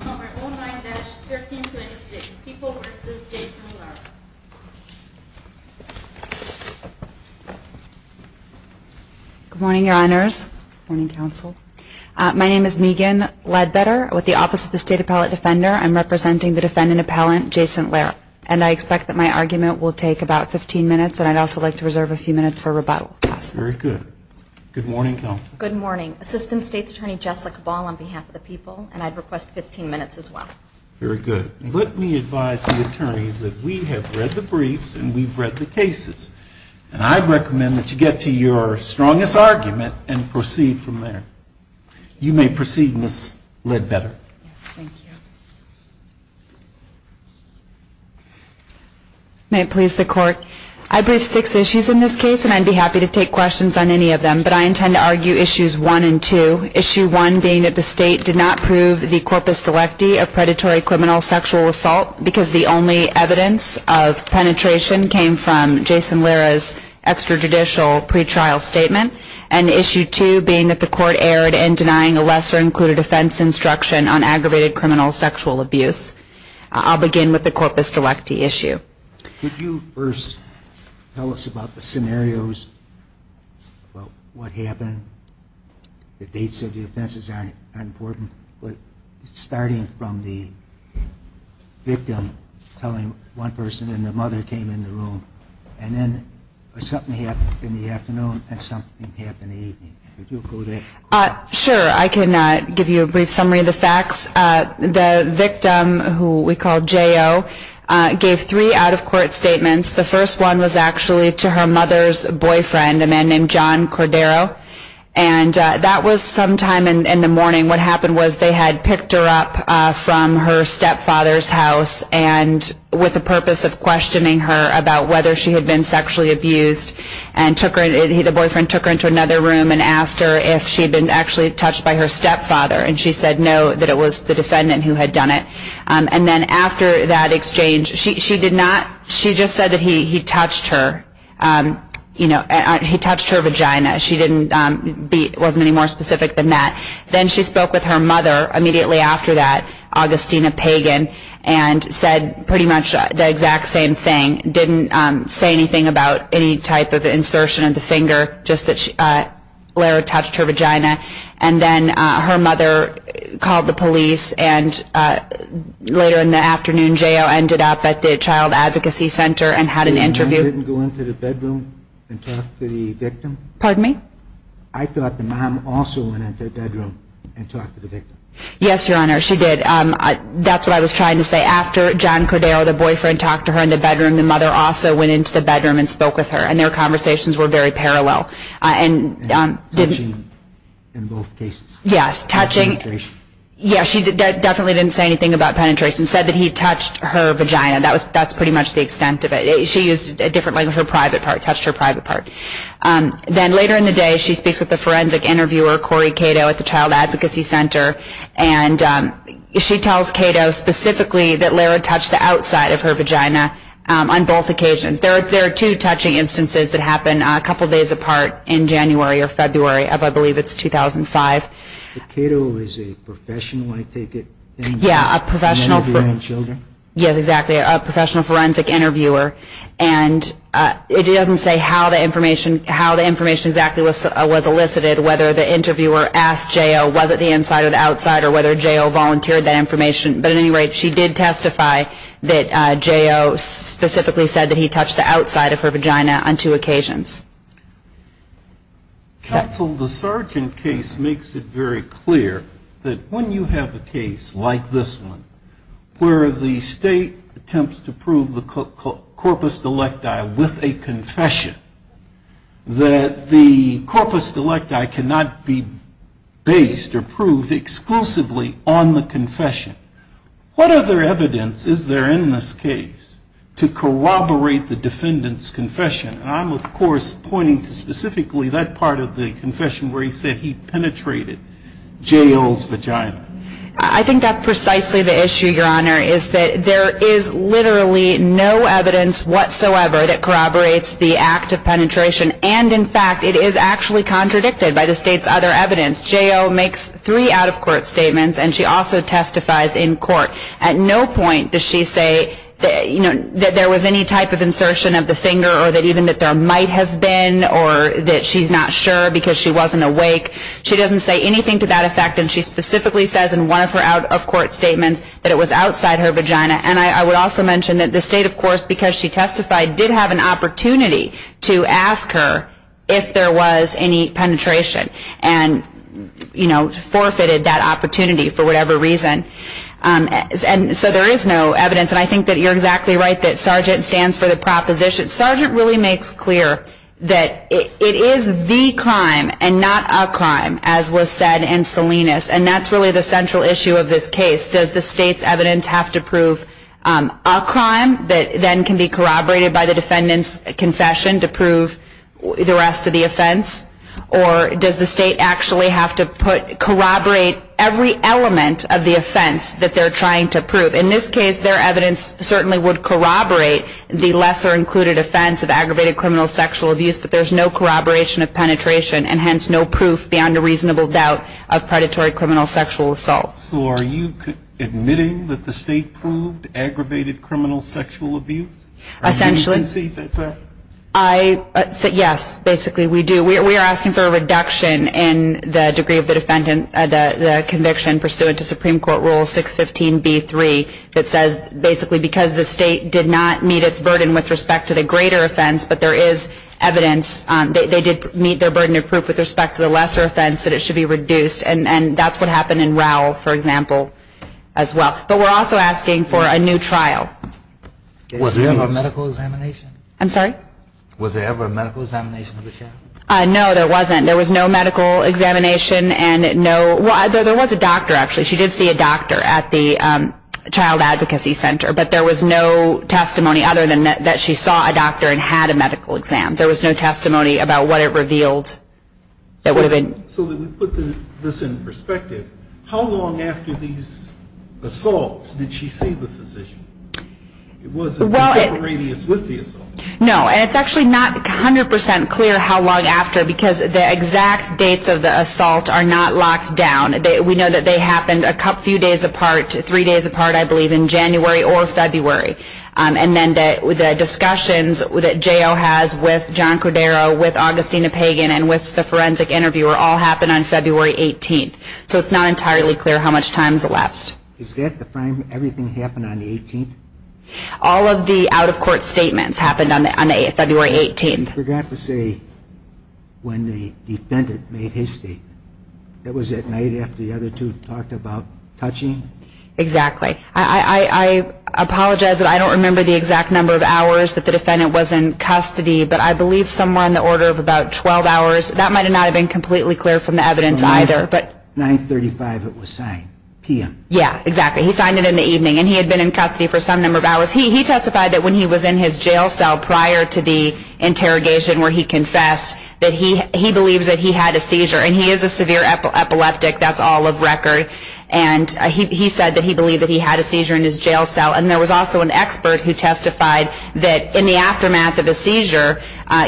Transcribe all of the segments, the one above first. Good morning, your honors, morning, counsel. My name is Megan Ledbetter with the Office of the State Appellate Defender. I'm representing the defendant appellant, Jason Lara, and I expect that my argument will take about 15 minutes, and I'd also like to reserve a few minutes for rebuttal, if possible. Very good. Good morning, counsel. Good morning. Assistant State's Attorney, Jessica Ball, on behalf of the people, and I'd request 15 minutes as well. Very good. Let me advise the attorneys that we have read the briefs and we've read the cases, and I recommend that you get to your strongest argument and proceed from there. You may proceed, Ms. Ledbetter. Yes, thank you. May it please the Court? I briefed six issues in this case, and I'd be happy to take questions on any of them, but I intend to issue one, being that the State did not prove the corpus delecti of predatory criminal sexual assault, because the only evidence of penetration came from Jason Lara's extrajudicial pretrial statement, and issue two, being that the Court erred in denying a lesser-included offense instruction on aggravated criminal sexual abuse. I'll begin with the corpus delecti issue. Could you first tell us about the scenarios, about what happened? The dates of the offenses aren't important, but starting from the victim telling one person, and the mother came in the room, and then something happened in the afternoon, and something happened in the evening. Could you go there? Sure. I can give you a brief summary of the facts. The victim, who we call J.O., gave three out-of-court statements. The first one was actually to her mother's boyfriend, a man named John Cordero, and that was sometime in the morning. What happened was they had picked her up from her stepfather's house, and with the purpose of questioning her about whether she had been sexually abused, and the boyfriend took her into another room and asked her if she had been actually touched by her stepfather, and she said no, that it was the defendant who had done it. And then after that exchange, she did not, she just said that he touched her, you know, he touched her vagina. She didn't, wasn't any more specific than that. Then she spoke with her mother immediately after that, Augustina Pagan, and said pretty much the exact same thing, didn't say anything about any type of insertion of the finger, just that Lara touched her vagina. And then her mother called the police, and later in the afternoon, J.O. ended up at the Child Advocacy Center and had an interview. The mom didn't go into the bedroom and talk to the victim? Pardon me? I thought the mom also went into the bedroom and talked to the victim. Yes, Your Honor, she did. That's what I was trying to say. After John Cordero, the boyfriend, talked to her in the bedroom, the mother also went into the bedroom and spoke with her, and their conversations were very parallel. And touching in both cases? Yes, touching. Penetration? Yes, she definitely didn't say anything about penetration, said that he touched her vagina. That's pretty much the extent of it. She used a different language, her private part, touched her private part. Then later in the day, she speaks with the forensic interviewer, Corey Cato, at the Child Advocacy Center, and she tells Cato specifically that Lara touched the outside of her vagina on both occasions. There are two touching instances that happen a couple days apart in January or February of, I believe, it's 2005. Cato is a professional, I take it? Yes, a professional forensic interviewer, and it doesn't say how the information exactly was elicited, whether the interviewer asked J.O., was it the inside or the outside, or whether J.O. volunteered that information. But at any rate, she did testify that J.O. specifically said that he touched the outside of her vagina on two occasions. Counsel, the Sargent case makes it very clear that when you have a case like this one, where the state attempts to prove the corpus delicti with a confession, that the corpus delicti cannot be based or proved exclusively on the confession. What other evidence is there in this case to corroborate the defendant's confession? And I'm, of course, pointing to specifically that part of the confession where he said he penetrated J.O.'s vagina. I think that's precisely the issue, Your Honor, is that there is literally no evidence whatsoever that corroborates the act of penetration, and in fact, it is actually contradicted by the state's other evidence. J.O. makes three out-of-court statements, and she also testifies in court. At no point does she say that there was any type of insertion of the finger, or that even that there might have been, or that she's not sure because she wasn't awake. She doesn't say anything to that effect, and she specifically says in one of her out-of-court statements that it was outside her vagina. And I would also mention that the state, of course, because she testified, did have an opportunity to ask her if there was any penetration and, you know, forfeited that opportunity for whatever reason. And so there is no evidence, and I think that you're exactly right that Sgt. stands for the proposition. Sgt. really makes clear that it is the crime and not a crime, as was said in Salinas, and that's really the central issue of this case. Does the state's evidence have to prove a crime that then can be confession to prove the rest of the offense? Or does the state actually have to corroborate every element of the offense that they're trying to prove? In this case, their evidence certainly would corroborate the lesser included offense of aggravated criminal sexual abuse, but there's no corroboration of penetration and hence no proof beyond a reasonable doubt of predatory criminal sexual assault. So are you admitting that the state proved aggravated criminal sexual abuse? Yes, basically we do. We are asking for a reduction in the degree of the conviction pursuant to Supreme Court Rule 615B3 that says basically because the state did not meet its burden with respect to the greater offense, but there is evidence, they did meet their burden of proof with respect to the lesser offense that it should be reduced, and that's what happened in Rowell, for example, as well. But we're also asking for a new trial. Was there ever a medical examination? I'm sorry? Was there ever a medical examination of the child? No, there wasn't. There was no medical examination and no, well, there was a doctor actually. She did see a doctor at the Child Advocacy Center, but there was no testimony other than that she saw a doctor and had a medical exam. There was no testimony about what it revealed that would have been. So that we put this in perspective, how long after these assaults did she see the physician? Was there a radius with the assault? No, and it's actually not 100% clear how long after because the exact dates of the assault are not locked down. We know that they happened a few days apart, three days apart, I believe, in January or February. And then the discussions that J.O. has with John Cordero, with Augustina Pagan, and with the forensic interviewer all happened on February 18th. So it's not entirely clear how much time is left. Is that the time everything happened on the 18th? All of the out-of-court statements happened on February 18th. You forgot to say when the defendant made his statement. That was at night after the other two talked about touching? Exactly. I apologize, but I don't remember the exact number of hours that the defendant was in custody, but I believe somewhere in the order of about 12 hours. That might not have been completely clear from the evidence either. 935 it was signed, p.m. Yeah, exactly. He signed it in the evening, and he had been in custody for some number of hours. He testified that when he was in his jail cell prior to the interrogation where he confessed that he believed that he had a seizure, and he is a severe epileptic, that's all of record, and he said that he believed that he had a seizure in his jail cell. And there was also an expert who testified that in the aftermath of a seizure,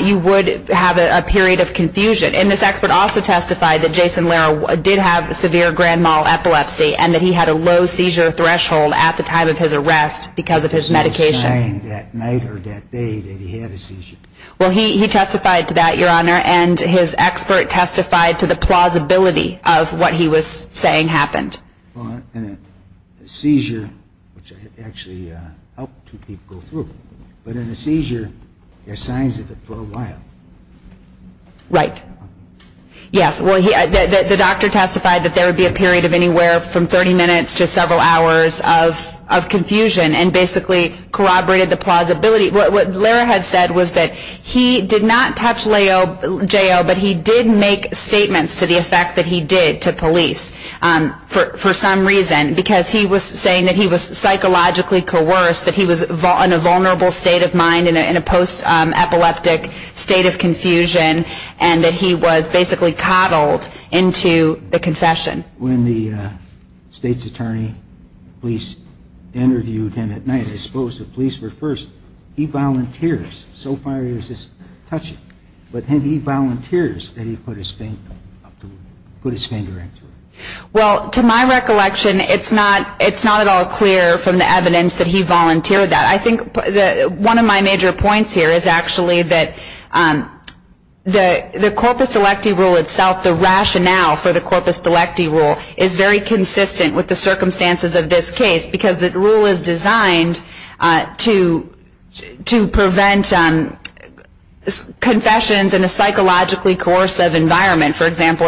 you would have a period of confusion. And this expert also testified that Jason Lera did have severe grand mal epilepsy and that he had a low seizure threshold at the time of his arrest because of his medication. He was saying that night or that day that he had a seizure. Well, he testified to that, Your Honor, and his expert testified to the plausibility of what he was saying happened. Well, in a seizure, which I actually helped two people go through, but in a seizure, there are signs of it for a while. Right. Yes, well, the doctor testified that there would be a period of anywhere from 30 minutes to several hours of confusion and basically corroborated the plausibility. What Lera had said was that he did not touch the jail, but he did make statements to the effect that he did to police for some reason, because he was saying that he was psychologically coerced, that he was in a vulnerable state of mind, in a post-epileptic state of confusion, and that he was basically coddled into the confession. When the state's attorney police interviewed him at night, I suppose the question is, does he have anything to say about the fact that he did touch the jail? Well, I think it's not at all clear from the evidence that he volunteered that. I think one of my major points here is actually that the corpus electi rule itself, the rationale for the corpus electi rule is very consistent with the circumstances of this case, because the rule is designed to prevent confessions in a psychologically coercive environment. For example,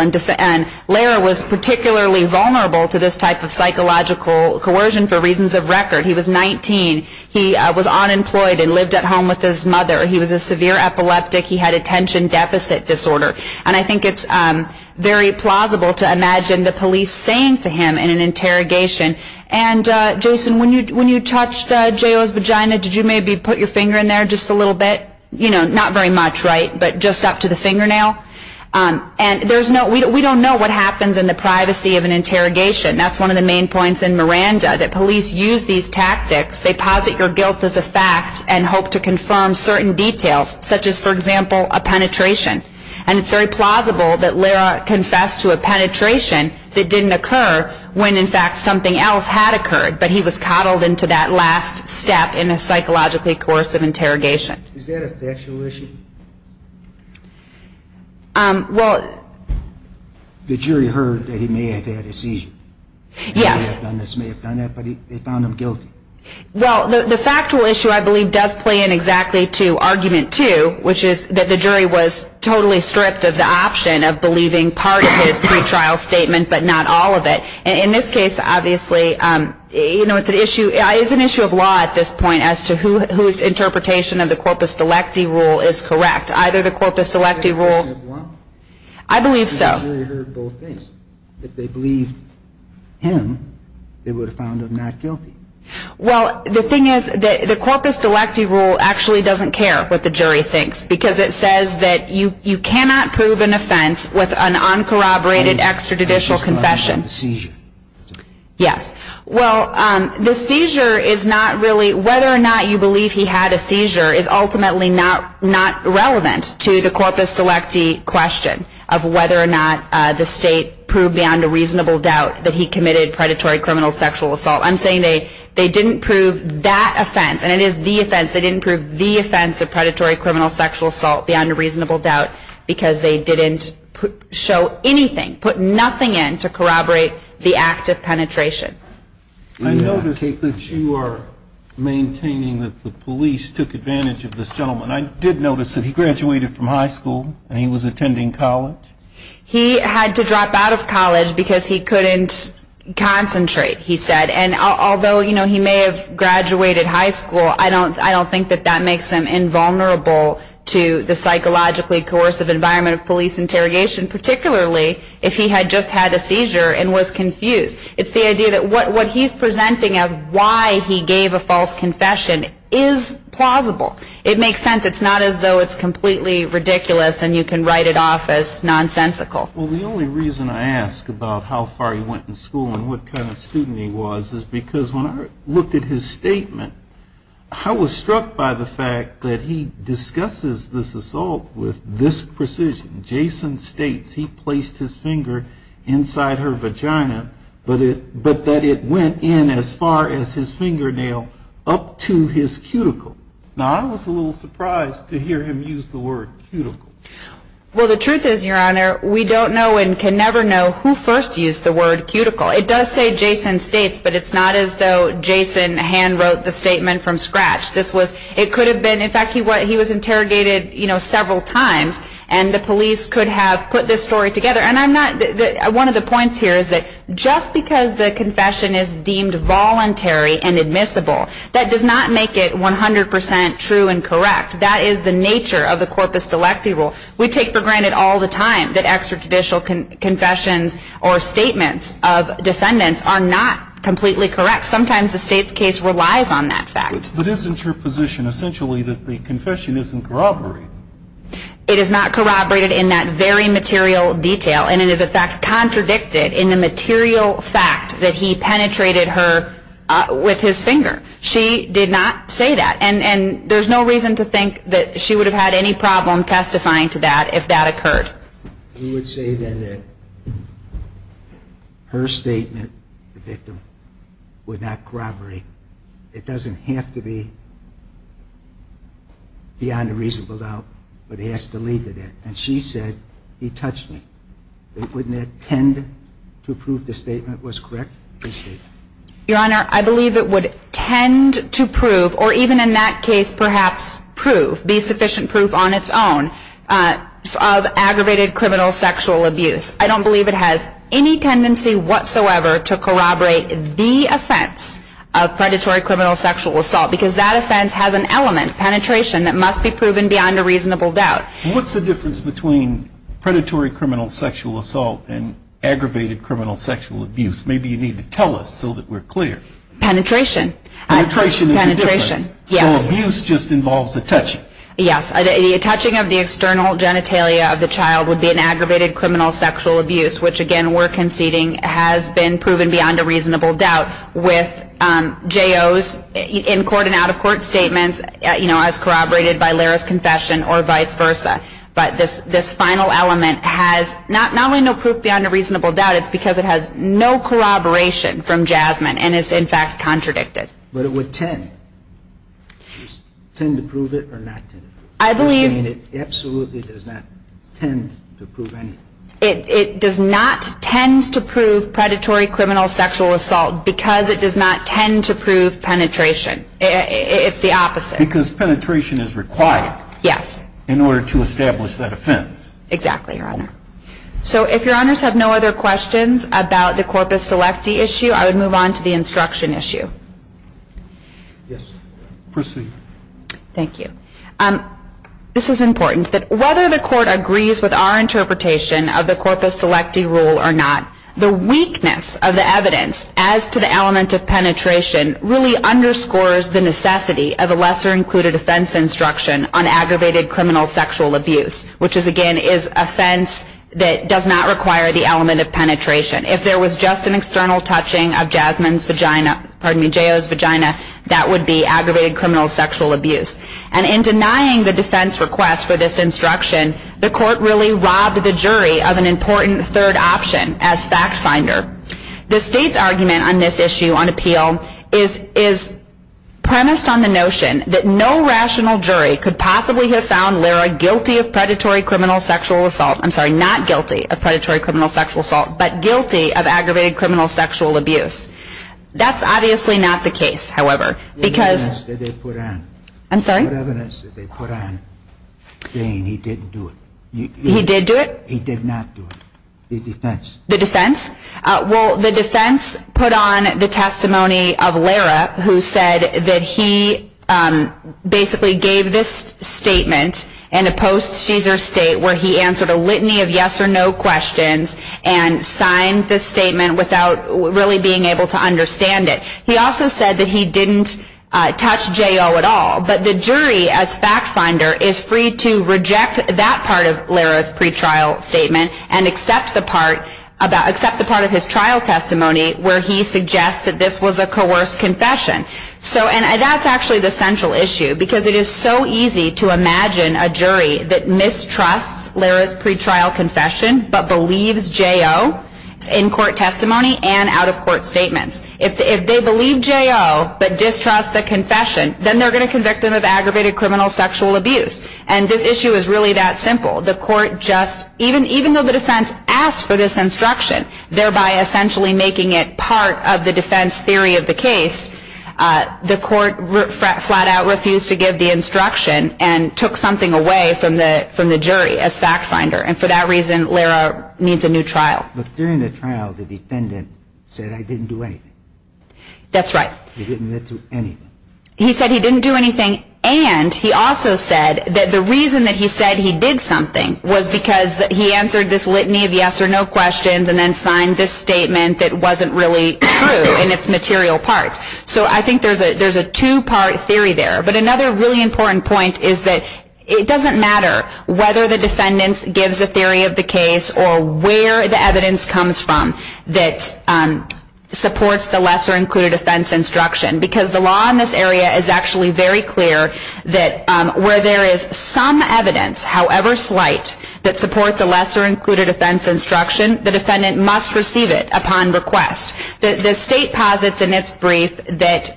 Lera was particularly vulnerable to this type of psychological coercion for reasons of record. He was 19. He was unemployed and lived at home with his mother. He was a severe epileptic. He had attention deficit disorder. And I think it's very plausible to imagine the police saying to Lera, you're guilty of an interrogation. And Jason, when you touched J.O.'s vagina, did you maybe put your finger in there just a little bit? Not very much, right? But just up to the fingernail? We don't know what happens in the privacy of an interrogation. That's one of the main points in Miranda, that police use these tactics. They posit your guilt as a fact and hope to confirm certain details, such as, for example, a penetration. And it's very plausible that Lera confessed to a penetration, and in fact something else had occurred, but he was coddled into that last step in a psychologically coercive interrogation. Is that a factual issue? Well... The jury heard that he may have had a seizure. Yes. They may have done this, may have done that, but they found him guilty. Well, the factual issue, I believe, does play in exactly to argument two, which is that the jury was totally stripped of the option of believing part of his pretrial statement, but not all of it. And in this case, obviously, you know, it's an issue of law at this point as to whose interpretation of the corpus delecti rule is correct. Either the corpus delecti rule... I believe so. If they believed him, they would have found him not guilty. Well, the thing is, the corpus delecti rule actually doesn't care what the extrajudicial confession... Yes. Well, the seizure is not really, whether or not you believe he had a seizure is ultimately not relevant to the corpus delecti question of whether or not the state proved beyond a reasonable doubt that he committed predatory criminal sexual assault. I'm saying they didn't prove that offense, and it is the offense, they didn't prove the offense of predatory criminal sexual assault beyond a reasonable doubt because they didn't show anything, put nothing in to corroborate the act of penetration. I notice that you are maintaining that the police took advantage of this gentleman. I did notice that he graduated from high school and he was attending college. He had to drop out of college because he couldn't concentrate, he said. And although, you know, he may have graduated high school, I don't think that that makes him invulnerable to the psychologically coercive environment of police interrogation, particularly if he had just had a seizure and was confused. It's the idea that what he's presenting as why he gave a false confession is plausible. It makes sense. It's not as though it's completely ridiculous and you can write it off as nonsensical. Well, the only reason I ask about how far he went in school and what kind of statement, I was struck by the fact that he discusses this assault with this precision. Jason states he placed his finger inside her vagina, but that it went in as far as his fingernail up to his cuticle. Now, I was a little surprised to hear him use the word cuticle. Well, the truth is, Your Honor, we don't know and can never know who first used the word cuticle. It does say Jason States, but it's not as though Jason hand-wrote the statement from scratch. This was, it could have been, in fact, he was interrogated, you know, several times and the police could have put this story together. And I'm not, one of the points here is that just because the confession is deemed voluntary and admissible, that does not make it 100% true and correct. That is the nature of the corpus delecti rule. We take for granted all the time that extrajudicial confessions or statements of defendants are not completely correct. Sometimes the States case relies on that fact. But isn't your position essentially that the confession isn't corroborated? It is not corroborated in that very material detail, and it is, in fact, contradicted in the material fact that he penetrated her with his finger. She did not say that, and there's no reason to think that she would have had any problem testifying to that if that occurred. You would say then that her statement, the victim, would not corroborate. It doesn't have to be beyond a reasonable doubt, but it has to lead to that. And she said, he touched me. Wouldn't that tend to prove the statement was correct? Your Honor, I believe it would tend to prove, or even in that case perhaps prove, be sufficient proof on its own, of aggravated criminal sexual abuse. I don't believe it has any tendency whatsoever to corroborate the offense of predatory criminal sexual assault, because that offense has an element, penetration, that must be proven beyond a reasonable doubt. What's the difference between predatory criminal sexual assault and aggravated criminal sexual abuse? Maybe you need to tell us so that we're clear. Penetration is the difference. Penetration, yes. Criminal sexual abuse just involves a touching. Yes. A touching of the external genitalia of the child would be an aggravated criminal sexual abuse, which, again, we're conceding has been proven beyond a reasonable doubt with J.O.'s in-court and out-of-court statements as corroborated by Lara's confession or vice versa. But this final element has not only no proof beyond a reasonable doubt, it's because it has no corroboration from Jasmine and is, in fact, contradicted. But it would tend. Tend to prove it or not tend to prove it. I believe... You're saying it absolutely does not tend to prove anything. It does not tend to prove predatory criminal sexual assault because it does not tend to prove penetration. It's the opposite. Because penetration is required. Yes. In order to establish that offense. Exactly, Your Honor. So if Your Honors have no other questions about the corpus delecti issue, I would move on to the instruction issue. Yes. Proceed. Thank you. This is important. That whether the Court agrees with our interpretation of the corpus delecti rule or not, the weakness of the evidence as to the element of penetration really underscores the necessity of a lesser included offense instruction on aggravated criminal sexual abuse, which is, again, is offense that does not require the element of penetration. If there was just an external touching of Jasmine's vagina, pardon me, J.O.'s vagina, that would be aggravated criminal sexual abuse. And in denying the defense request for this instruction, the Court really robbed the jury of an important third option as fact finder. The State's argument on this issue on appeal is premised on the notion that no rational jury could possibly have found Lyra guilty of predatory criminal sexual assault. I'm sorry, not guilty of predatory criminal sexual assault, but guilty of aggravated criminal sexual abuse. That's obviously not the case, however. The evidence that they put on saying he didn't do it. He did do it? He did not do it. The defense. The defense? Well, the defense put on the testimony of Lyra, who said that he basically gave this statement in a post-Caesar State where he answered a litany of yes or no questions and signed this statement without really being able to understand it. He also said that he didn't touch J.O. at all. But the jury as fact finder is free to reject that part of Lyra's pretrial statement and accept the part of his trial testimony where he suggests that this was a coerced confession. And that's actually the central issue, because it is so easy to imagine a jury that mistrusts Lyra's pretrial confession but believes J.O. in court testimony and out-of-court statements. If they believe J.O. but distrust the confession, then they're going to convict him of aggravated criminal sexual abuse. And this issue is really that simple. The court just, even though the defense asked for this instruction, thereby essentially making it part of the defense theory of the case, the court flat-out refused to give the instruction and took something away from the jury as fact finder. And for that reason, Lyra needs a new trial. But during the trial, the defendant said, I didn't do anything. That's right. He didn't do anything. He said he didn't do anything, and he also said that the reason that he said he did something was because he answered this litany of yes or no questions and then signed this statement that wasn't really true in its material parts. So I think there's a two-part theory there. But another really important point is that it doesn't matter whether the defendant gives a theory of the case or where the evidence comes from that supports the lesser-included offense instruction, because the law in this area is actually very clear that where there is some evidence, however slight, that supports a lesser-included offense instruction, the defendant must receive it upon request. The state posits in its brief that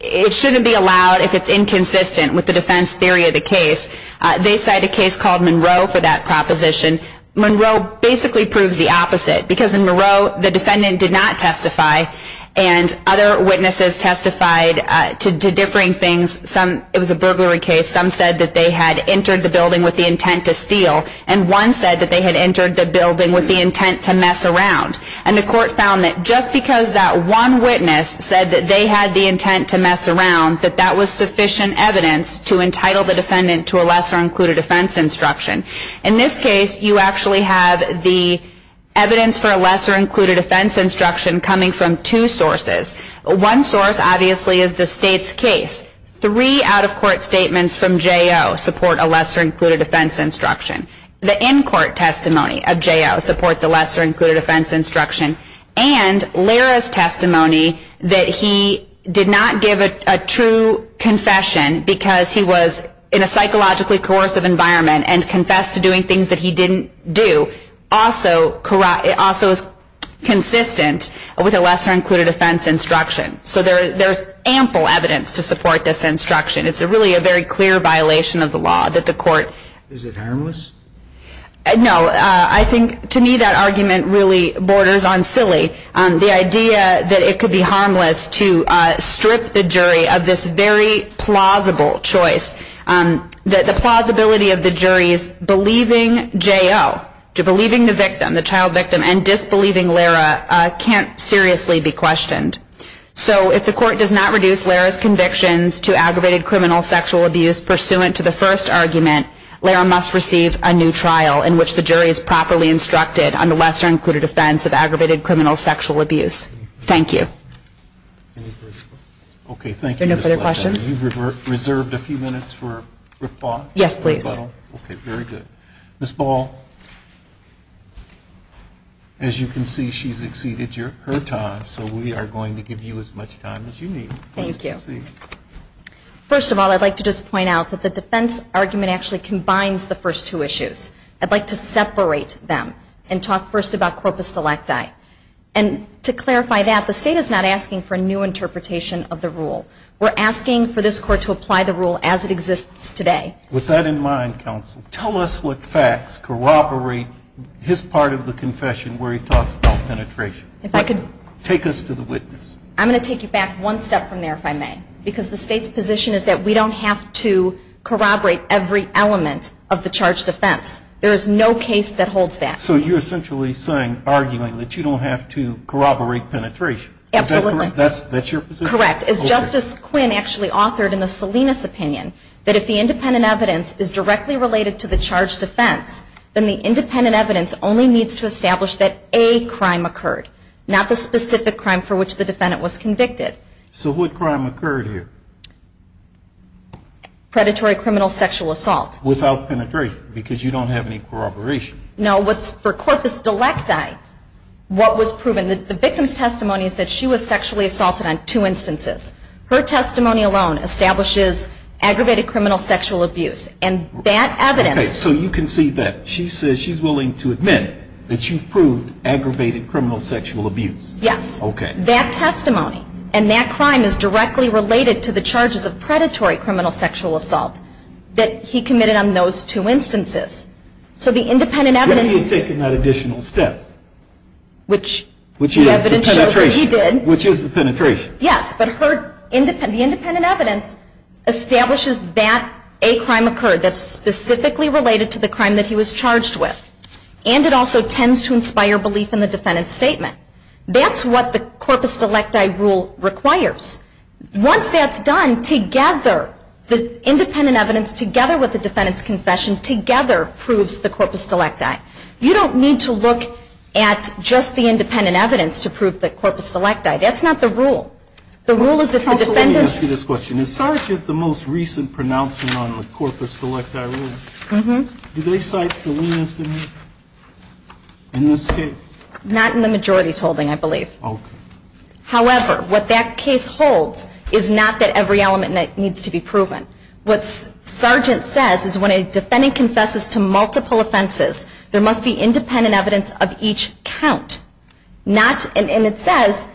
it shouldn't be allowed if it's inconsistent with the defense theory of the case. They cite a case called Monroe for that proposition. Monroe basically proves the opposite, because in Monroe, the defendant did not testify, and other witnesses testified to differing things. It was a burglary case. Some said that they had entered the building with the intent to steal, and one said that they had entered the building with the intent to mess around. And the court found that just because that one witness said that they had the intent to mess around, that that was sufficient evidence to entitle the defendant to a lesser-included offense instruction. In this case, you actually have the evidence for a lesser-included offense instruction coming from two sources. One source, obviously, is the state's case. Three out-of-court statements from J.O. support a lesser-included offense instruction. The in-court testimony of J.O. supports a lesser-included offense instruction, and Lyra's testimony that he did not give a true confession because he was in a psychologically coercive environment and confessed to doing things that he didn't do also is consistent with a lesser-included offense instruction. So there's ample evidence to support this instruction. It's really a very clear violation of the law that the court… Is it harmless? No. I think, to me, that argument really borders on silly. The idea that it could be harmless to strip the jury of this very plausible choice, the plausibility of the jury's believing J.O., believing the victim, the child victim, and disbelieving Lyra can't seriously be So if the court does not reduce Lyra's convictions to aggravated criminal sexual abuse pursuant to the first argument, Lyra must receive a new trial in which the jury is properly instructed on the lesser-included offense of aggravated criminal sexual abuse. Thank you. Any further questions? Okay. Thank you. Are there no further questions? You've reserved a few minutes for rebuttal? Yes, please. Okay. Very good. Ms. Ball, as you can see, she's exceeded her time, so we are going to give you as much time as you need. Thank you. Please proceed. First of all, I'd like to just point out that the defense argument actually combines the first two issues. I'd like to separate them and talk first about corpus electi. And to clarify that, the State is not asking for a new interpretation of the rule. We're asking for this Court to apply the rule as it exists today. With that in mind, counsel, tell us what facts corroborate his part of the confession where he talks about penetration. If I could… Take us to the witness. I'm going to take you back one step from there, if I may. Because the State's position is that we don't have to corroborate every element of the charge defense. There is no case that holds that. So you're essentially saying, arguing, that you don't have to corroborate penetration. Absolutely. Is that correct? That's your position? Correct. As Justice Quinn actually authored in the Salinas opinion, that if the independent evidence is directly related to the charge defense, then the independent evidence only needs to establish that a crime occurred, not the specific crime for which the defendant was convicted. So what crime occurred here? Predatory criminal sexual assault. Without penetration, because you don't have any corroboration. No. For corpus delecti, what was proven, the victim's testimony is that she was sexually assaulted on two instances. Her testimony alone establishes aggravated criminal sexual abuse. And that evidence… Okay. So you can see that. She says she's willing to admit that she's proved aggravated criminal sexual abuse. Yes. Okay. That testimony and that crime is directly related to the charges of predatory criminal sexual assault that he committed on those two instances. So the independent evidence… What if he had taken that additional step? Which… Which is the penetration. Which he did. Which is the penetration. Yes. But the independent evidence establishes that a crime occurred that's specifically related to the crime that he was charged with. And it also tends to inspire belief in the defendant's statement. That's what the corpus delecti rule requires. Once that's done, together, the independent evidence, together with the defendant's confession, together proves the corpus delecti. You don't need to look at just the independent evidence to prove the corpus delecti. That's not the rule. The rule is that the defendant's… Counsel, let me ask you this question. Mm-hmm. Do they cite Salinas in this case? Not in the majority's holding, I believe. Okay. However, what that case holds is not that every element needs to be proven. What Sargent says is when a defendant confesses to multiple offenses, there must be independent evidence of each count. Not… And it says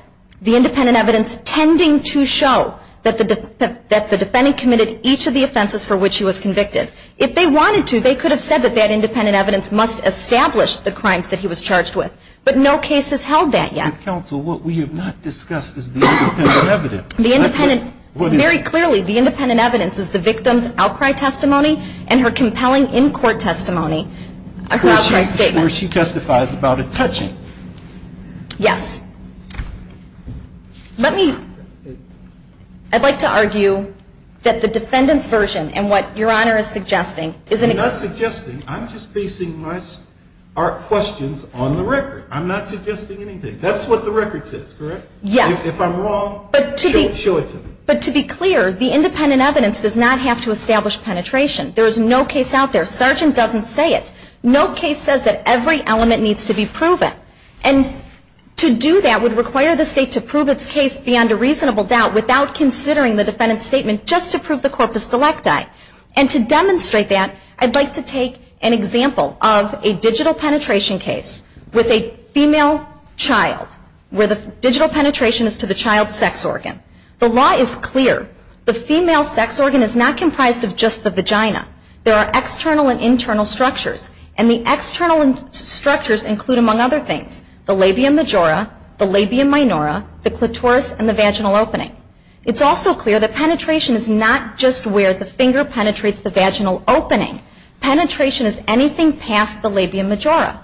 the independent evidence tending to show that the defendant committed each of the offenses for which he was convicted. If they wanted to, they could have said that that independent evidence must establish the crimes that he was charged with. But no case has held that yet. Counsel, what we have not discussed is the independent evidence. The independent… What is it? Very clearly, the independent evidence is the victim's outcry testimony and her compelling in-court testimony, her outcry statement. Where she testifies about a… Touching. Yes. Let me… I'd like to argue that the defendant's version and what Your Honor is suggesting is an… I'm not suggesting. I'm just basing my questions on the record. I'm not suggesting anything. That's what the record says, correct? Yes. If I'm wrong, show it to me. But to be clear, the independent evidence does not have to establish penetration. There is no case out there. Sargent doesn't say it. No case says that every element needs to be proven. And to do that would require the State to prove its case beyond a reasonable doubt without considering the defendant's statement just to prove the corpus delicti. And to demonstrate that, I'd like to take an example of a digital penetration case with a female child where the digital penetration is to the child's sex organ. The law is clear. The female sex organ is not comprised of just the vagina. There are external and internal structures. And the external structures include, among other things, the labia majora, the labia minora, the clitoris, and the vaginal opening. It's also clear that penetration is not just where the finger penetrates the vaginal opening. Penetration is anything past the labia majora.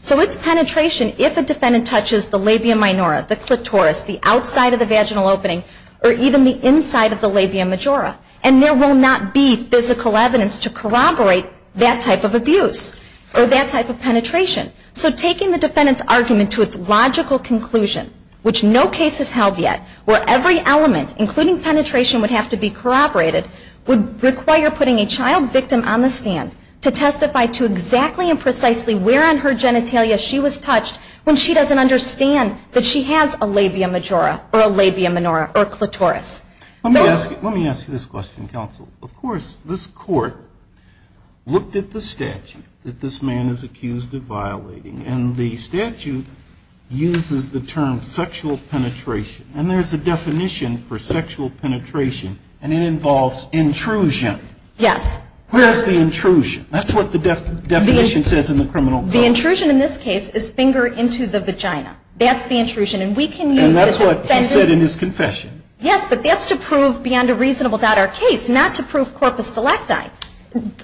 So it's penetration if a defendant touches the labia minora, the clitoris, the outside of the vaginal opening, or even the inside of the labia majora. And there will not be physical evidence to corroborate that type of abuse or that type of penetration. So taking the defendant's argument to its logical conclusion, which no case has held yet, where every element, including penetration, would have to be corroborated, would require putting a child victim on the stand to testify to exactly and precisely where on her genitalia she was touched when she doesn't understand that she has a labia majora or a labia minora or clitoris. Let me ask you this question, counsel. Of course, this Court looked at the statute that this man is accused of violating, and the statute uses the term sexual penetration. And there's a definition for sexual penetration, and it involves intrusion. Yes. Where is the intrusion? That's what the definition says in the criminal code. The intrusion in this case is finger into the vagina. That's the intrusion. And we can use the defendant's... And that's what he said in his confession. Yes, but that's to prove beyond a reasonable doubt our case, not to prove corpus delecti.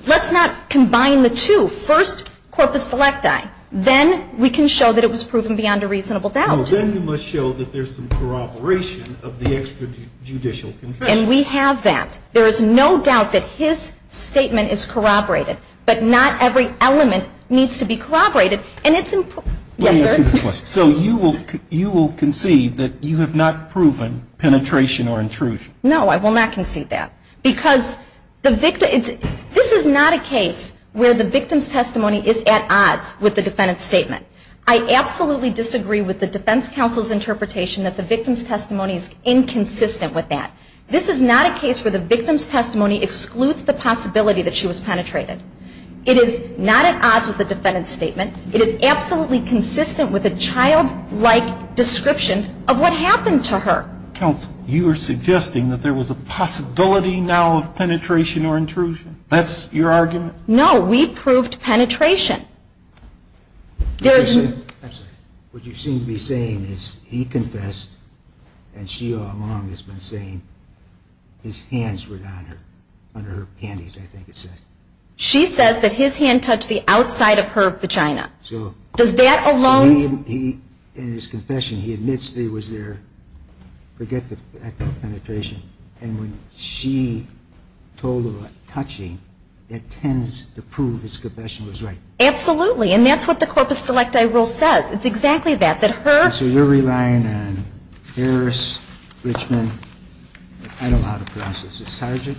Let's not combine the two. First, corpus delecti. Then we can show that it was proven beyond a reasonable doubt. Well, then you must show that there's some corroboration of the extrajudicial confession. And we have that. There is no doubt that his statement is corroborated, but not every element needs to be corroborated. And it's... Yes, sir. So you will concede that you have not proven penetration or intrusion? No, I will not concede that. Because this is not a case where the victim's testimony is at odds with the defendant's statement. I absolutely disagree with the defense counsel's interpretation that the victim's testimony is inconsistent with that. This is not a case where the victim's testimony excludes the possibility that she was penetrated. It is not at odds with the defendant's statement. It is absolutely consistent with a childlike description of what happened to her. Counsel, you are suggesting that there was a possibility now of penetration or intrusion? That's your argument? No, we proved penetration. There is... I'm sorry. What you seem to be saying is he confessed and she all along has been saying his hands were down her, under her panties, I think it says. She says that his hand touched the outside of her vagina. So... Does that alone... So he, in his confession, he admits that he was there. Forget the fact of penetration. And when she told him about touching, that tends to prove his confession was right. Absolutely. And that's what the corpus delecti rule says. It's exactly that. That her... So you're relying on Harris, Richmond, I don't know how to pronounce this. Is it Sargent?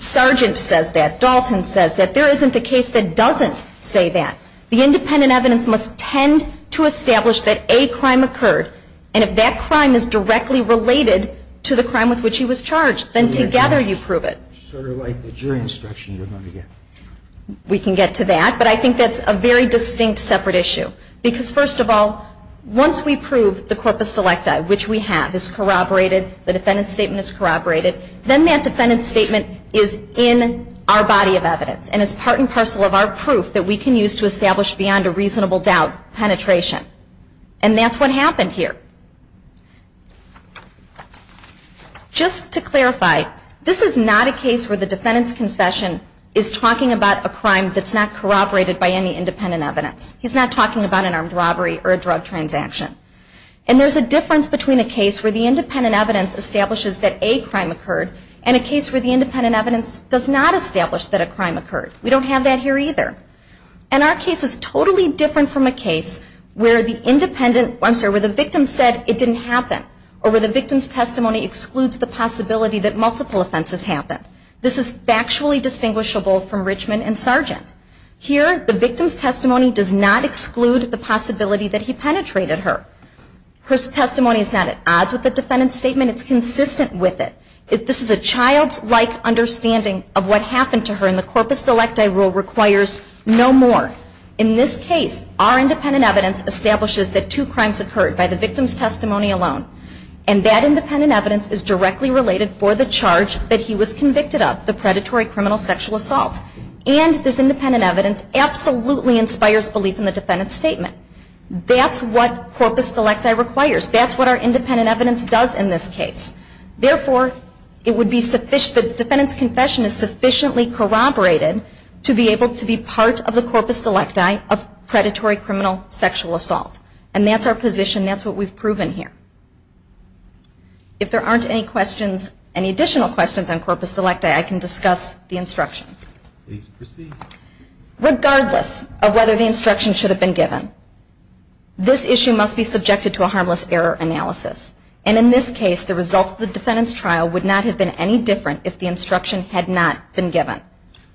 Sargent says that. Dalton says that. There isn't a case that doesn't say that. The independent evidence must tend to establish that a crime occurred. And if that crime is directly related to the crime with which he was charged, then together you prove it. Sort of like the jury instruction you're going to get. We can get to that. But I think that's a very distinct separate issue. Because, first of all, once we prove the corpus delecti, which we have, is corroborated, the defendant's statement is corroborated, then that defendant's statement is in our body of evidence. And it's part and parcel of our proof that we can use to establish beyond a reasonable doubt penetration. And that's what happened here. Just to clarify, this is not a case where the defendant's confession is talking about a crime that's not corroborated by any independent evidence. He's not talking about an armed robbery or a drug transaction. And there's a difference between a case where the independent evidence establishes that a crime occurred, and a case where the independent evidence does not establish that a crime occurred. We don't have that here either. And our case is totally different from a case where the victim said it didn't happen. Or where the victim's testimony excludes the possibility that multiple offenses happened. This is factually distinguishable from Richmond and Sargent. Here, the victim's testimony does not exclude the possibility that he penetrated her. Her testimony is not at odds with the defendant's statement. It's consistent with it. This is a childlike understanding of what happened to her, and the corpus delecti rule requires no more. In this case, our independent evidence establishes that two crimes occurred by the victim's testimony alone. And that independent evidence is directly related for the charge that he was convicted of, the predatory criminal sexual assault. And this independent evidence absolutely inspires belief in the defendant's statement. That's what corpus delecti requires. That's what our independent evidence does in this case. Therefore, the defendant's confession is sufficiently corroborated to be able to be part of the corpus delecti of predatory criminal sexual assault. And that's our position. That's what we've proven here. If there aren't any questions, any additional questions on corpus delecti, I can discuss the instruction. Please proceed. Regardless of whether the instruction should have been given, this issue must be subjected to a harmless error analysis. And in this case, the result of the defendant's trial would not have been any different if the instruction had not been given.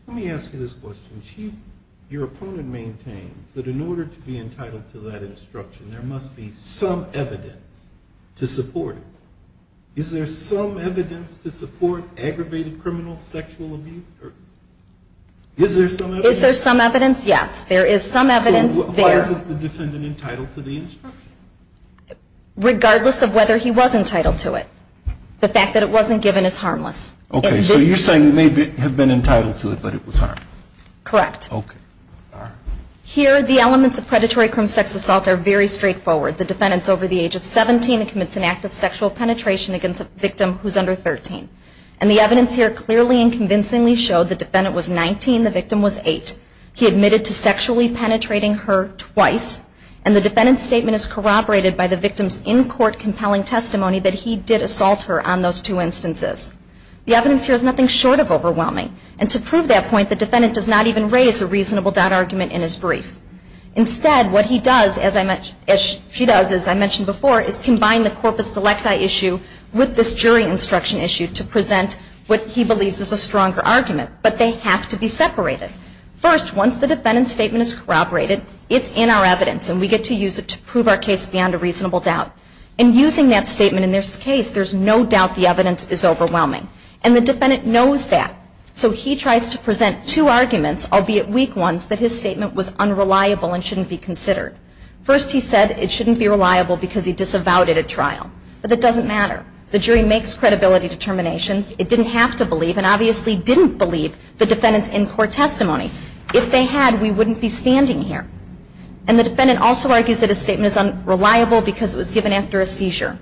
Let me ask you this question. Your opponent maintains that in order to be entitled to that instruction, there must be some evidence to support it. Is there some evidence to support aggravated criminal sexual abuse? Is there some evidence? Is there some evidence? Yes, there is some evidence there. So why is the defendant entitled to the instruction? Regardless of whether he was entitled to it. The fact that it wasn't given is harmless. Okay. So you're saying he may have been entitled to it, but it was harmed. Correct. Okay. Here, the elements of predatory criminal sexual assault are very straightforward. The defendant is over the age of 17 and commits an act of sexual penetration against a victim who is under 13. And the evidence here clearly and convincingly showed the defendant was 19, the victim was 8. He admitted to sexually penetrating her twice. And the defendant's statement is corroborated by the victim's in-court compelling testimony that he did assault her on those two instances. The evidence here is nothing short of overwhelming. And to prove that point, the defendant does not even raise a reasonable doubt argument in his brief. Instead, what he does, as I mentioned, as she does, as I mentioned before, is combine the corpus delecti issue with this jury instruction issue to present what he believes is a stronger argument. But they have to be separated. First, once the defendant's statement is corroborated, it's in our evidence. And we get to use it to prove our case beyond a reasonable doubt. And using that statement in this case, there's no doubt the evidence is overwhelming. And the defendant knows that. So he tries to present two arguments, albeit weak ones, that his statement was unreliable and shouldn't be considered. First, he said it shouldn't be reliable because he disavowed it at trial. But that doesn't matter. The jury makes credibility determinations. It didn't have to believe and obviously didn't believe the defendant's in-court testimony. If they had, we wouldn't be standing here. And the defendant also argues that his statement is unreliable because it was given after a seizure.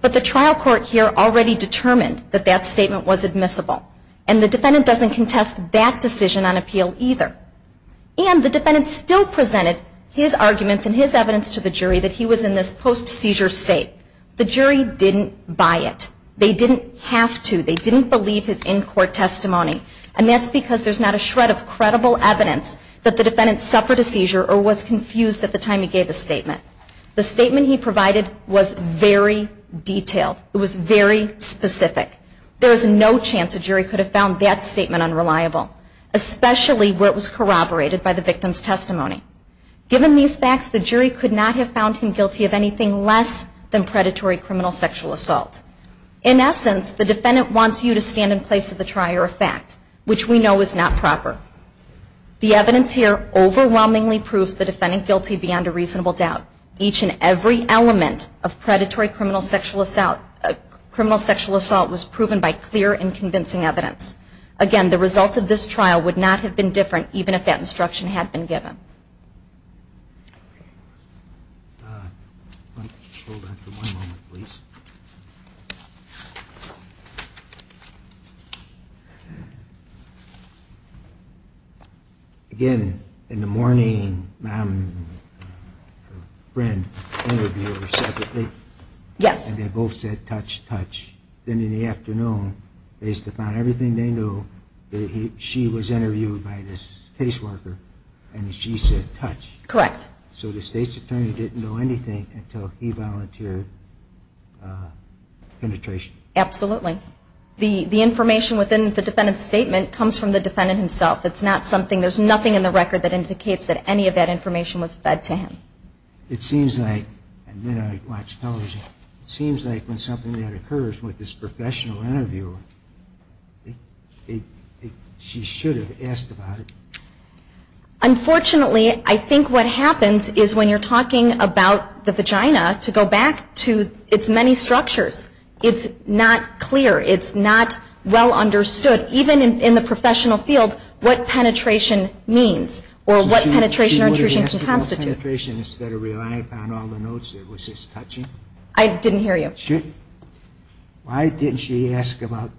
But the trial court here already determined that that statement was admissible. And the defendant doesn't contest that decision on appeal either. And the defendant still presented his arguments and his evidence to the jury that he was in this post-seizure state. The jury didn't buy it. They didn't have to. They didn't believe his in-court testimony. And that's because there's not a shred of credible evidence that the defendant suffered a seizure or was confused at the time he gave a statement. The statement he provided was very detailed. It was very specific. There is no chance a jury could have found that statement unreliable, especially where it was corroborated by the victim's testimony. Given these facts, the jury could not have found him guilty of anything less than predatory criminal sexual assault. In essence, the defendant wants you to stand in place of the trier of fact, which we know is not proper. The evidence here overwhelmingly proves the defendant guilty beyond a reasonable doubt. Each and every element of predatory criminal sexual assault was proven by clear and convincing evidence. Again, the results of this trial would not have been different even if that instruction had been given. Hold on for one moment, please. Again, in the morning, ma'am and her friend interviewed her separately. Yes. And they both said, touch, touch. Then in the afternoon, they used to find everything they knew. She was interviewed by this caseworker, and she said, touch. Correct. So the state's attorney didn't know anything until he volunteered penetration. Absolutely. The information within the defendant's statement comes from the defendant himself. It's not something, there's nothing in the record that indicates that any of that information was fed to him. It seems like, and then I watch television, it seems like when something like that occurs with this professional interviewer, she should have asked about it. Unfortunately, I think what happens is when you're talking about the vagina, to go back to its many structures, it's not clear, it's not well understood, even in the professional field, what penetration means or what penetration or intrusion can constitute. She would have asked about penetration instead of relying upon all the notes there. Was this touching? I didn't hear you. Why didn't she ask about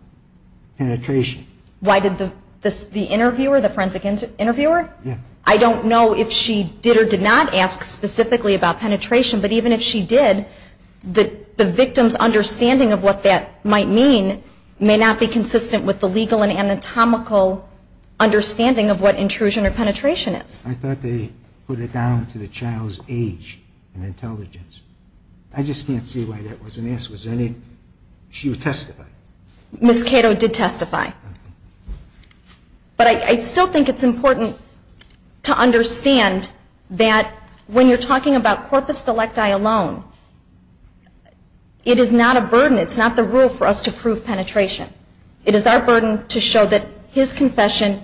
penetration? Why did the interviewer, the forensic interviewer? Yeah. I don't know if she did or did not ask specifically about penetration, but even if she did, the victim's understanding of what that might mean may not be consistent with the legal and anatomical understanding of what intrusion or penetration is. I thought they put it down to the child's age and intelligence. I just can't see why that wasn't asked. Was there any, she would testify. Ms. Cato did testify. But I still think it's important to understand that when you're talking about corpus delicti alone, it is not a burden, it's not the rule for us to prove penetration. It is our burden to show that his confession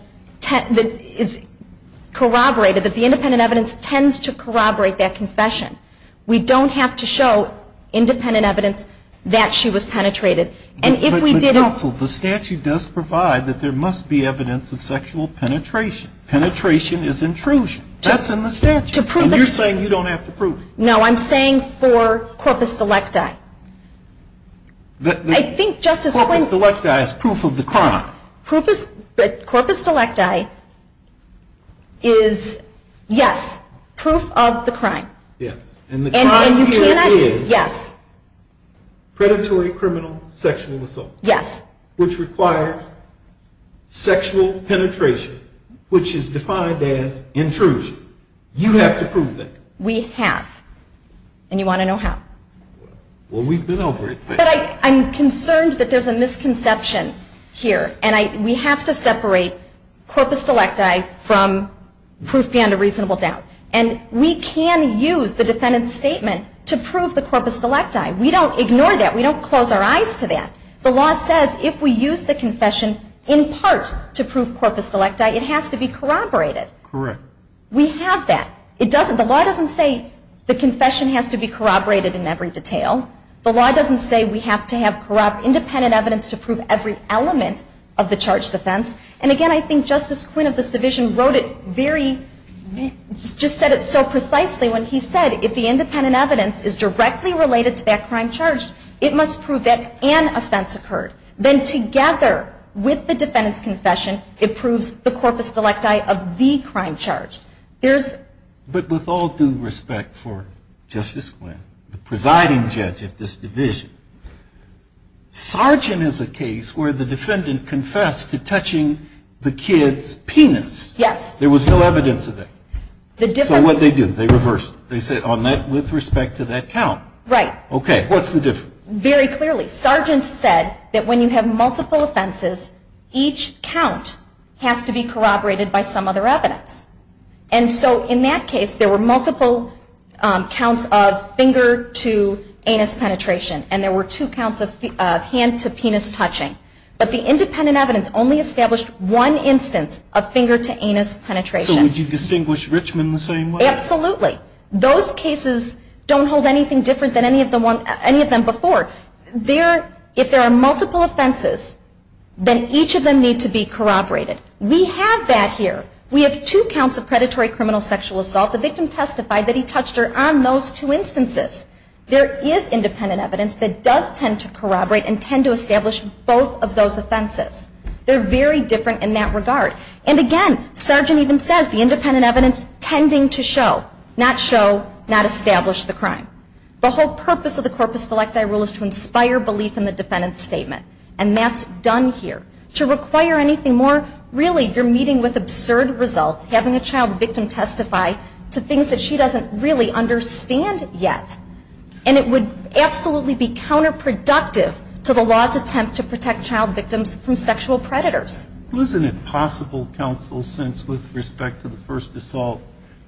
is corroborated, that the independent evidence tends to corroborate that confession. We don't have to show independent evidence that she was penetrated. But counsel, the statute does provide that there must be evidence of sexual penetration. Penetration is intrusion. That's in the statute. To prove it. And you're saying you don't have to prove it. No, I'm saying for corpus delicti. I think, Justice Holman. Corpus delicti is proof of the crime. Corpus delicti is, yes, proof of the crime. Yes. And the crime here is predatory criminal sexual assault. Yes. Which requires sexual penetration, which is defined as intrusion. You have to prove that. We have. And you want to know how? Well, we've been over it. But I'm concerned that there's a misconception here. And we have to separate corpus delicti from proof beyond a reasonable doubt. And we can use the defendant's statement to prove the corpus delicti. We don't ignore that. We don't close our eyes to that. The law says if we use the confession in part to prove corpus delicti, it has to be corroborated. Correct. We have that. The law doesn't say the confession has to be corroborated in every detail. The law doesn't say we have to have independent evidence to prove every element of the charged offense. And again, I think Justice Quinn of this division wrote it very, just said it so precisely when he said, if the independent evidence is directly related to that crime charged, it must prove that an offense occurred. Then together with the defendant's confession, it proves the corpus delicti of the crime charged. But with all due respect for Justice Quinn, the presiding judge of this division, Sargent is a case where the defendant confessed to touching the kid's penis. Yes. There was no evidence of that. So what did they do? They reversed. They said, with respect to that count. Right. Okay. What's the difference? Very clearly. Sargent said that when you have multiple offenses, each count has to be corroborated by some other evidence. And so in that case, there were multiple counts of finger-to-anus penetration. And there were two counts of hand-to-penis touching. But the independent evidence only established one instance of finger-to-anus penetration. So would you distinguish Richmond the same way? Absolutely. Those cases don't hold anything different than any of them before. If there are multiple offenses, then each of them need to be corroborated. We have that here. We have two counts of predatory criminal sexual assault. The victim testified that he touched her on those two instances. There is independent evidence that does tend to corroborate and tend to establish both of those offenses. They're very different in that regard. And, again, Sargent even says the independent evidence tending to show, not show, not establish the crime. The whole purpose of the corpus selecti rule is to inspire belief in the defendant's statement. And that's done here. To require anything more, really, you're meeting with absurd results. Having a child victim testify to things that she doesn't really understand yet. And it would absolutely be counterproductive to the law's attempt to protect child victims from sexual predators. It was an impossible counsel since, with respect to the first assault,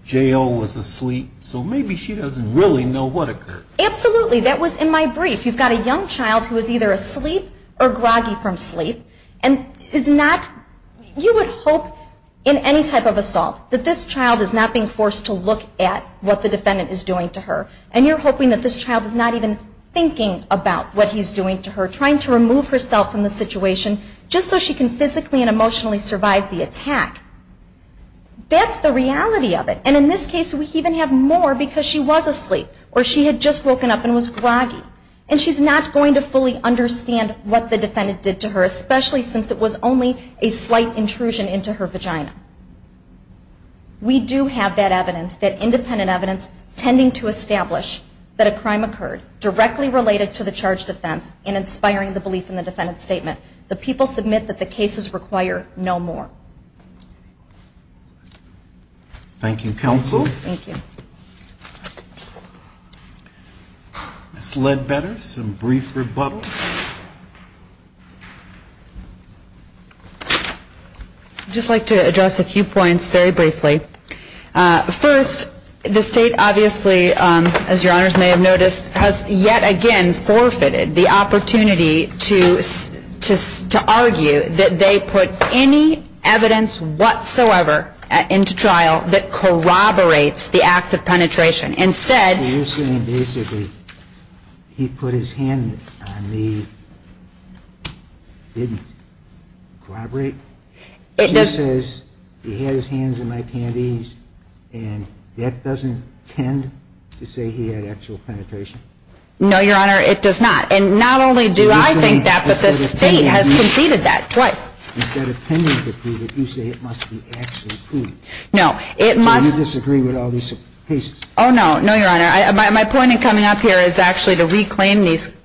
J.O. was asleep. So maybe she doesn't really know what occurred. Absolutely. That was in my brief. If you've got a young child who is either asleep or groggy from sleep and is not, you would hope in any type of assault that this child is not being forced to look at what the defendant is doing to her. And you're hoping that this child is not even thinking about what he's doing to her. Trying to remove herself from the situation just so she can physically and emotionally survive the attack. That's the reality of it. And in this case, we even have more because she was asleep. Or she had just woken up and was groggy. And she's not going to fully understand what the defendant did to her, especially since it was only a slight intrusion into her vagina. We do have that evidence, that independent evidence, tending to establish that a crime occurred directly related to the charged offense and inspiring the belief in the defendant's statement. The people submit that the cases require no more. Thank you, counsel. Thank you. Ms. Ledbetter, some brief rebuttals. I'd just like to address a few points very briefly. First, the state obviously, as your honors may have noticed, has yet again forfeited the opportunity to argue that they put any evidence whatsoever into trial that corroborates the act of penetration. You're saying basically he put his hand on me, didn't corroborate? She says he had his hands in my panties, and that doesn't tend to say he had actual penetration? No, your honor, it does not. And not only do I think that, but the state has conceded that twice. So you disagree with all these cases? Oh, no. No, your honor. My point in coming up here is actually to reclaim these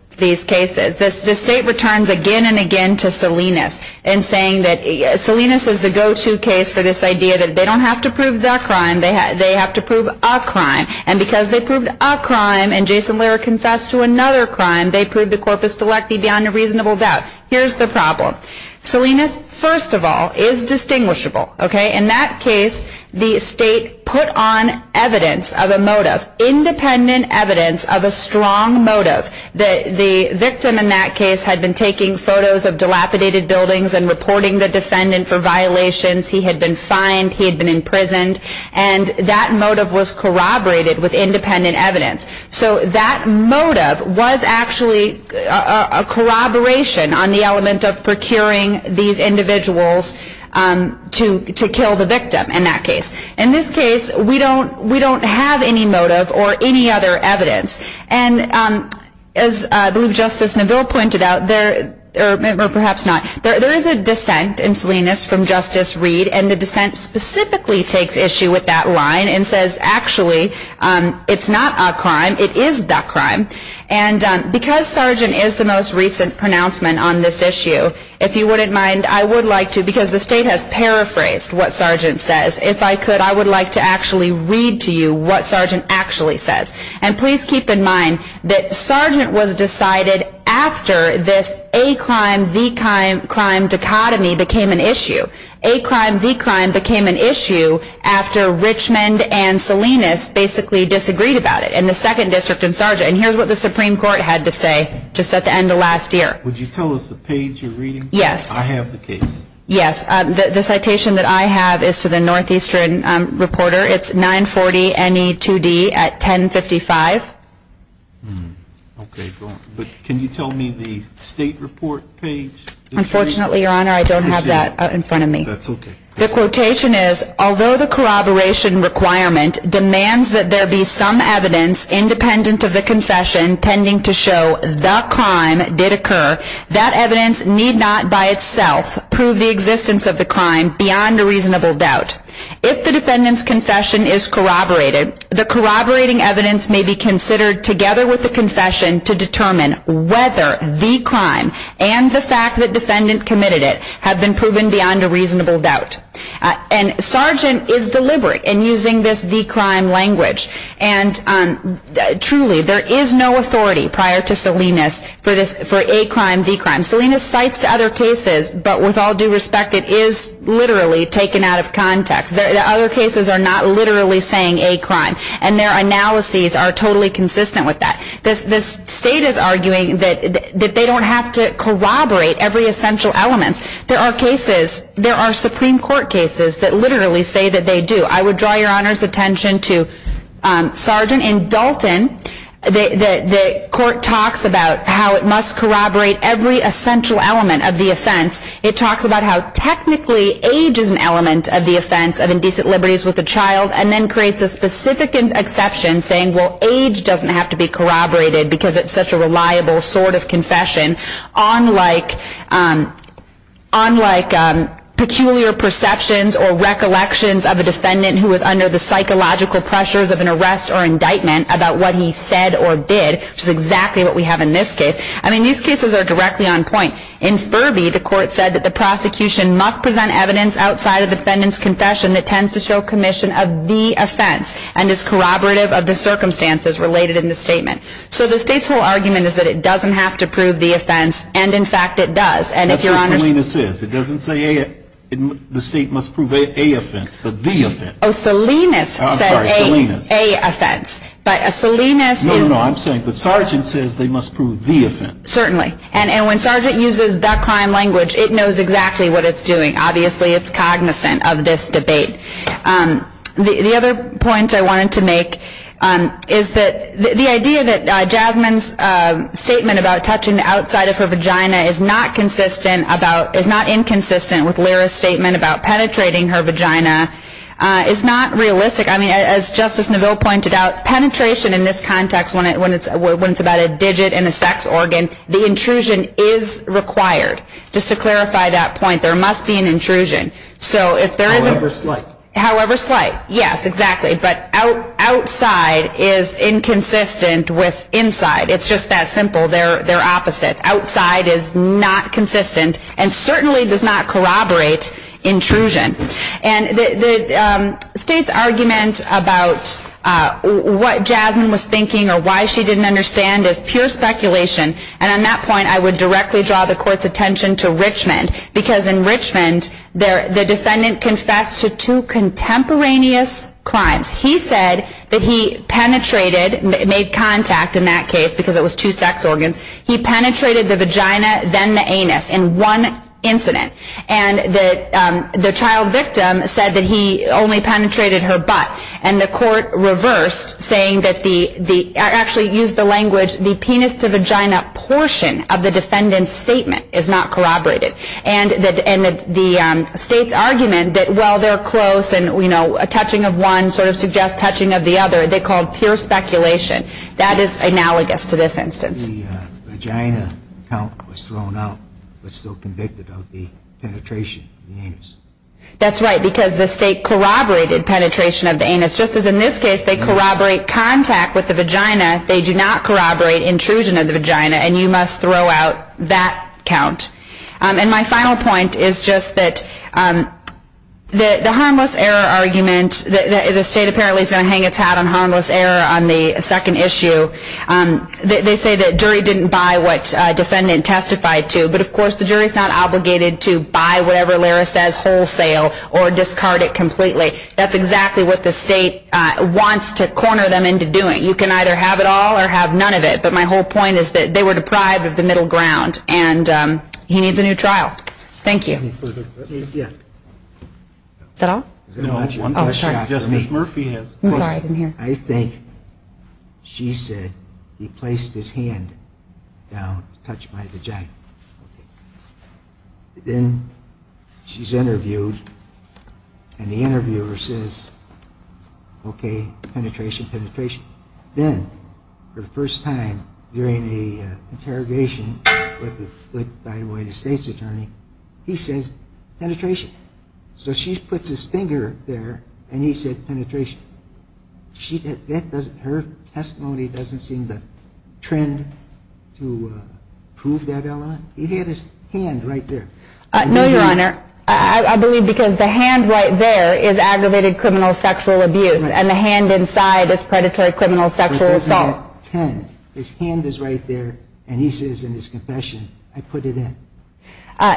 cases. The state returns again and again to Salinas and saying that Salinas is the go-to case for this idea that they don't have to prove the crime, they have to prove a crime. And because they proved a crime and Jason Lehrer confessed to another crime, they proved the corpus delecti beyond a reasonable doubt. Here's the problem. Salinas, first of all, is distinguishable. In that case, the state put on evidence of a motive, independent evidence of a strong motive. The victim in that case had been taking photos of dilapidated buildings and reporting the defendant for violations. He had been fined. He had been imprisoned. And that motive was corroborated with independent evidence. So that motive was actually a corroboration on the element of procuring these individuals to kill the victim in that case. In this case, we don't have any motive or any other evidence. And as I believe Justice Neville pointed out, or perhaps not, there is a dissent in Salinas from Justice Reed, and the dissent specifically takes issue with that line and says, actually, it's not a crime, it is the crime. And because Sargent is the most recent pronouncement on this issue, if you wouldn't mind, I would like to, because the state has paraphrased what Sargent says, if I could, I would like to actually read to you what Sargent actually says. And please keep in mind that Sargent was decided after this A crime, V crime dichotomy became an issue. A crime, V crime became an issue after Richmond and Salinas basically disagreed about it, and the second district and Sargent. And here's what the Supreme Court had to say just at the end of last year. Would you tell us the page you're reading? Yes. I have the case. Yes. The citation that I have is to the Northeastern Reporter. It's 940 NE 2D at 1055. Okay. But can you tell me the state report page? Unfortunately, Your Honor, I don't have that in front of me. That's okay. The quotation is, although the corroboration requirement demands that there be some evidence independent of the confession tending to show the crime did occur, that evidence need not by itself prove the existence of the crime beyond a reasonable doubt. If the defendant's confession is corroborated, the corroborating evidence may be considered together with the confession to determine whether V crime and the fact that defendant committed it have been proven beyond a reasonable doubt. And Sargent is deliberate in using this V crime language, and truly there is no authority prior to Salinas for A crime, V crime. Salinas cites to other cases, but with all due respect, it is literally taken out of context. The other cases are not literally saying A crime, and their analyses are totally consistent with that. This state is arguing that they don't have to corroborate every essential element. There are cases, there are Supreme Court cases that literally say that they do. I would draw Your Honor's attention to Sargent and Dalton. The court talks about how it must corroborate every essential element of the offense. It talks about how technically age is an element of the offense of indecent liberties with a child, and then creates a specific exception saying, well, age doesn't have to be corroborated because it's such a reliable sort of confession, unlike peculiar perceptions or recollections of a defendant who was under the psychological pressures of an arrest or indictment about what he said or did, which is exactly what we have in this case. I mean, these cases are directly on point. In Furby, the court said that the prosecution must present evidence outside of the defendant's confession that tends to show commission of the offense and is corroborative of the circumstances related in the statement. So the state's whole argument is that it doesn't have to prove the offense, and in fact it does. That's what Salinas says. It doesn't say the state must prove A offense, but the offense. Oh, Salinas says A offense. No, no, no, I'm saying that Sargent says they must prove the offense. Certainly. And when Sargent uses the crime language, it knows exactly what it's doing. Obviously it's cognizant of this debate. The other point I wanted to make is that the idea that Jasmine's statement about touching the outside of her vagina is not inconsistent with Lyra's statement about penetrating her vagina is not realistic. I mean, as Justice Neville pointed out, penetration in this context, when it's about a digit in a sex organ, the intrusion is required. Just to clarify that point, there must be an intrusion. However slight. However slight, yes, exactly. But outside is inconsistent with inside. It's just that simple. They're opposites. Outside is not consistent and certainly does not corroborate intrusion. And the State's argument about what Jasmine was thinking or why she didn't understand is pure speculation. And on that point, I would directly draw the Court's attention to Richmond. Because in Richmond, the defendant confessed to two contemporaneous crimes. He said that he penetrated, made contact in that case because it was two sex organs. He penetrated the vagina, then the anus in one incident. And the child victim said that he only penetrated her butt. And the Court reversed, saying that the, actually used the language, the penis to vagina portion of the defendant's statement is not corroborated. And the State's argument that while they're close and, you know, a touching of one sort of suggests touching of the other, they called pure speculation. That is analogous to this instance. The vagina count was thrown out, but still convicted of the penetration of the anus. That's right, because the State corroborated penetration of the anus. Just as in this case, they corroborate contact with the vagina, they do not corroborate intrusion of the vagina. And you must throw out that count. And my final point is just that the harmless error argument, the State apparently is going to hang its hat on harmless error on the second issue. They say that jury didn't buy what defendant testified to. But, of course, the jury is not obligated to buy whatever Lara says wholesale or discard it completely. That's exactly what the State wants to corner them into doing. You can either have it all or have none of it. But my whole point is that they were deprived of the middle ground. And he needs a new trial. Thank you. No. Just as Murphy has. I'm sorry, I didn't hear. I think she said he placed his hand down to touch my vagina. Then she's interviewed, and the interviewer says, okay, penetration, penetration. Then for the first time during the interrogation with the State's attorney, he says penetration. So she puts his finger there, and he said penetration. Her testimony doesn't seem to trend to prove that element. He had his hand right there. No, Your Honor. I believe because the hand right there is aggravated criminal sexual abuse, and the hand inside is predatory criminal sexual assault. His hand is right there, and he says in his confession, I put it in.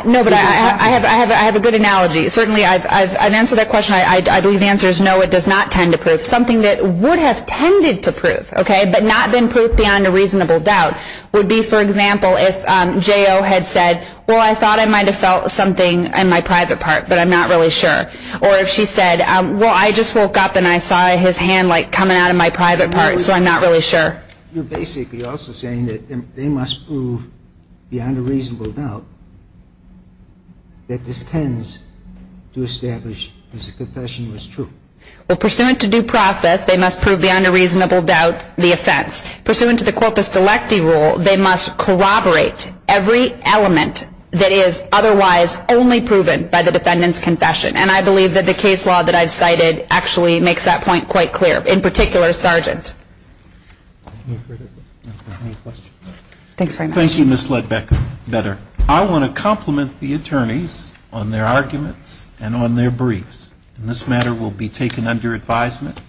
No, but I have a good analogy. Certainly, I've answered that question. I believe the answer is no, it does not tend to prove. Something that would have tended to prove, okay, but not been proved beyond a reasonable doubt would be, for example, if J.O. had said, well, I thought I might have felt something in my private part, but I'm not really sure. Or if she said, well, I just woke up and I saw his hand, like, coming out of my private part, so I'm not really sure. You're basically also saying that they must prove beyond a reasonable doubt that this tends to establish his confession was true. Well, pursuant to due process, they must prove beyond a reasonable doubt the offense. Pursuant to the corpus delecti rule, they must corroborate every element that is otherwise only proven by the defendant's confession. And I believe that the case law that I've cited actually makes that point quite clear, in particular Sargent. Any further questions? Thanks very much. Thank you, Ms. Ledbecker. Better. I want to compliment the attorneys on their arguments and on their briefs. And this matter will be taken under advisement.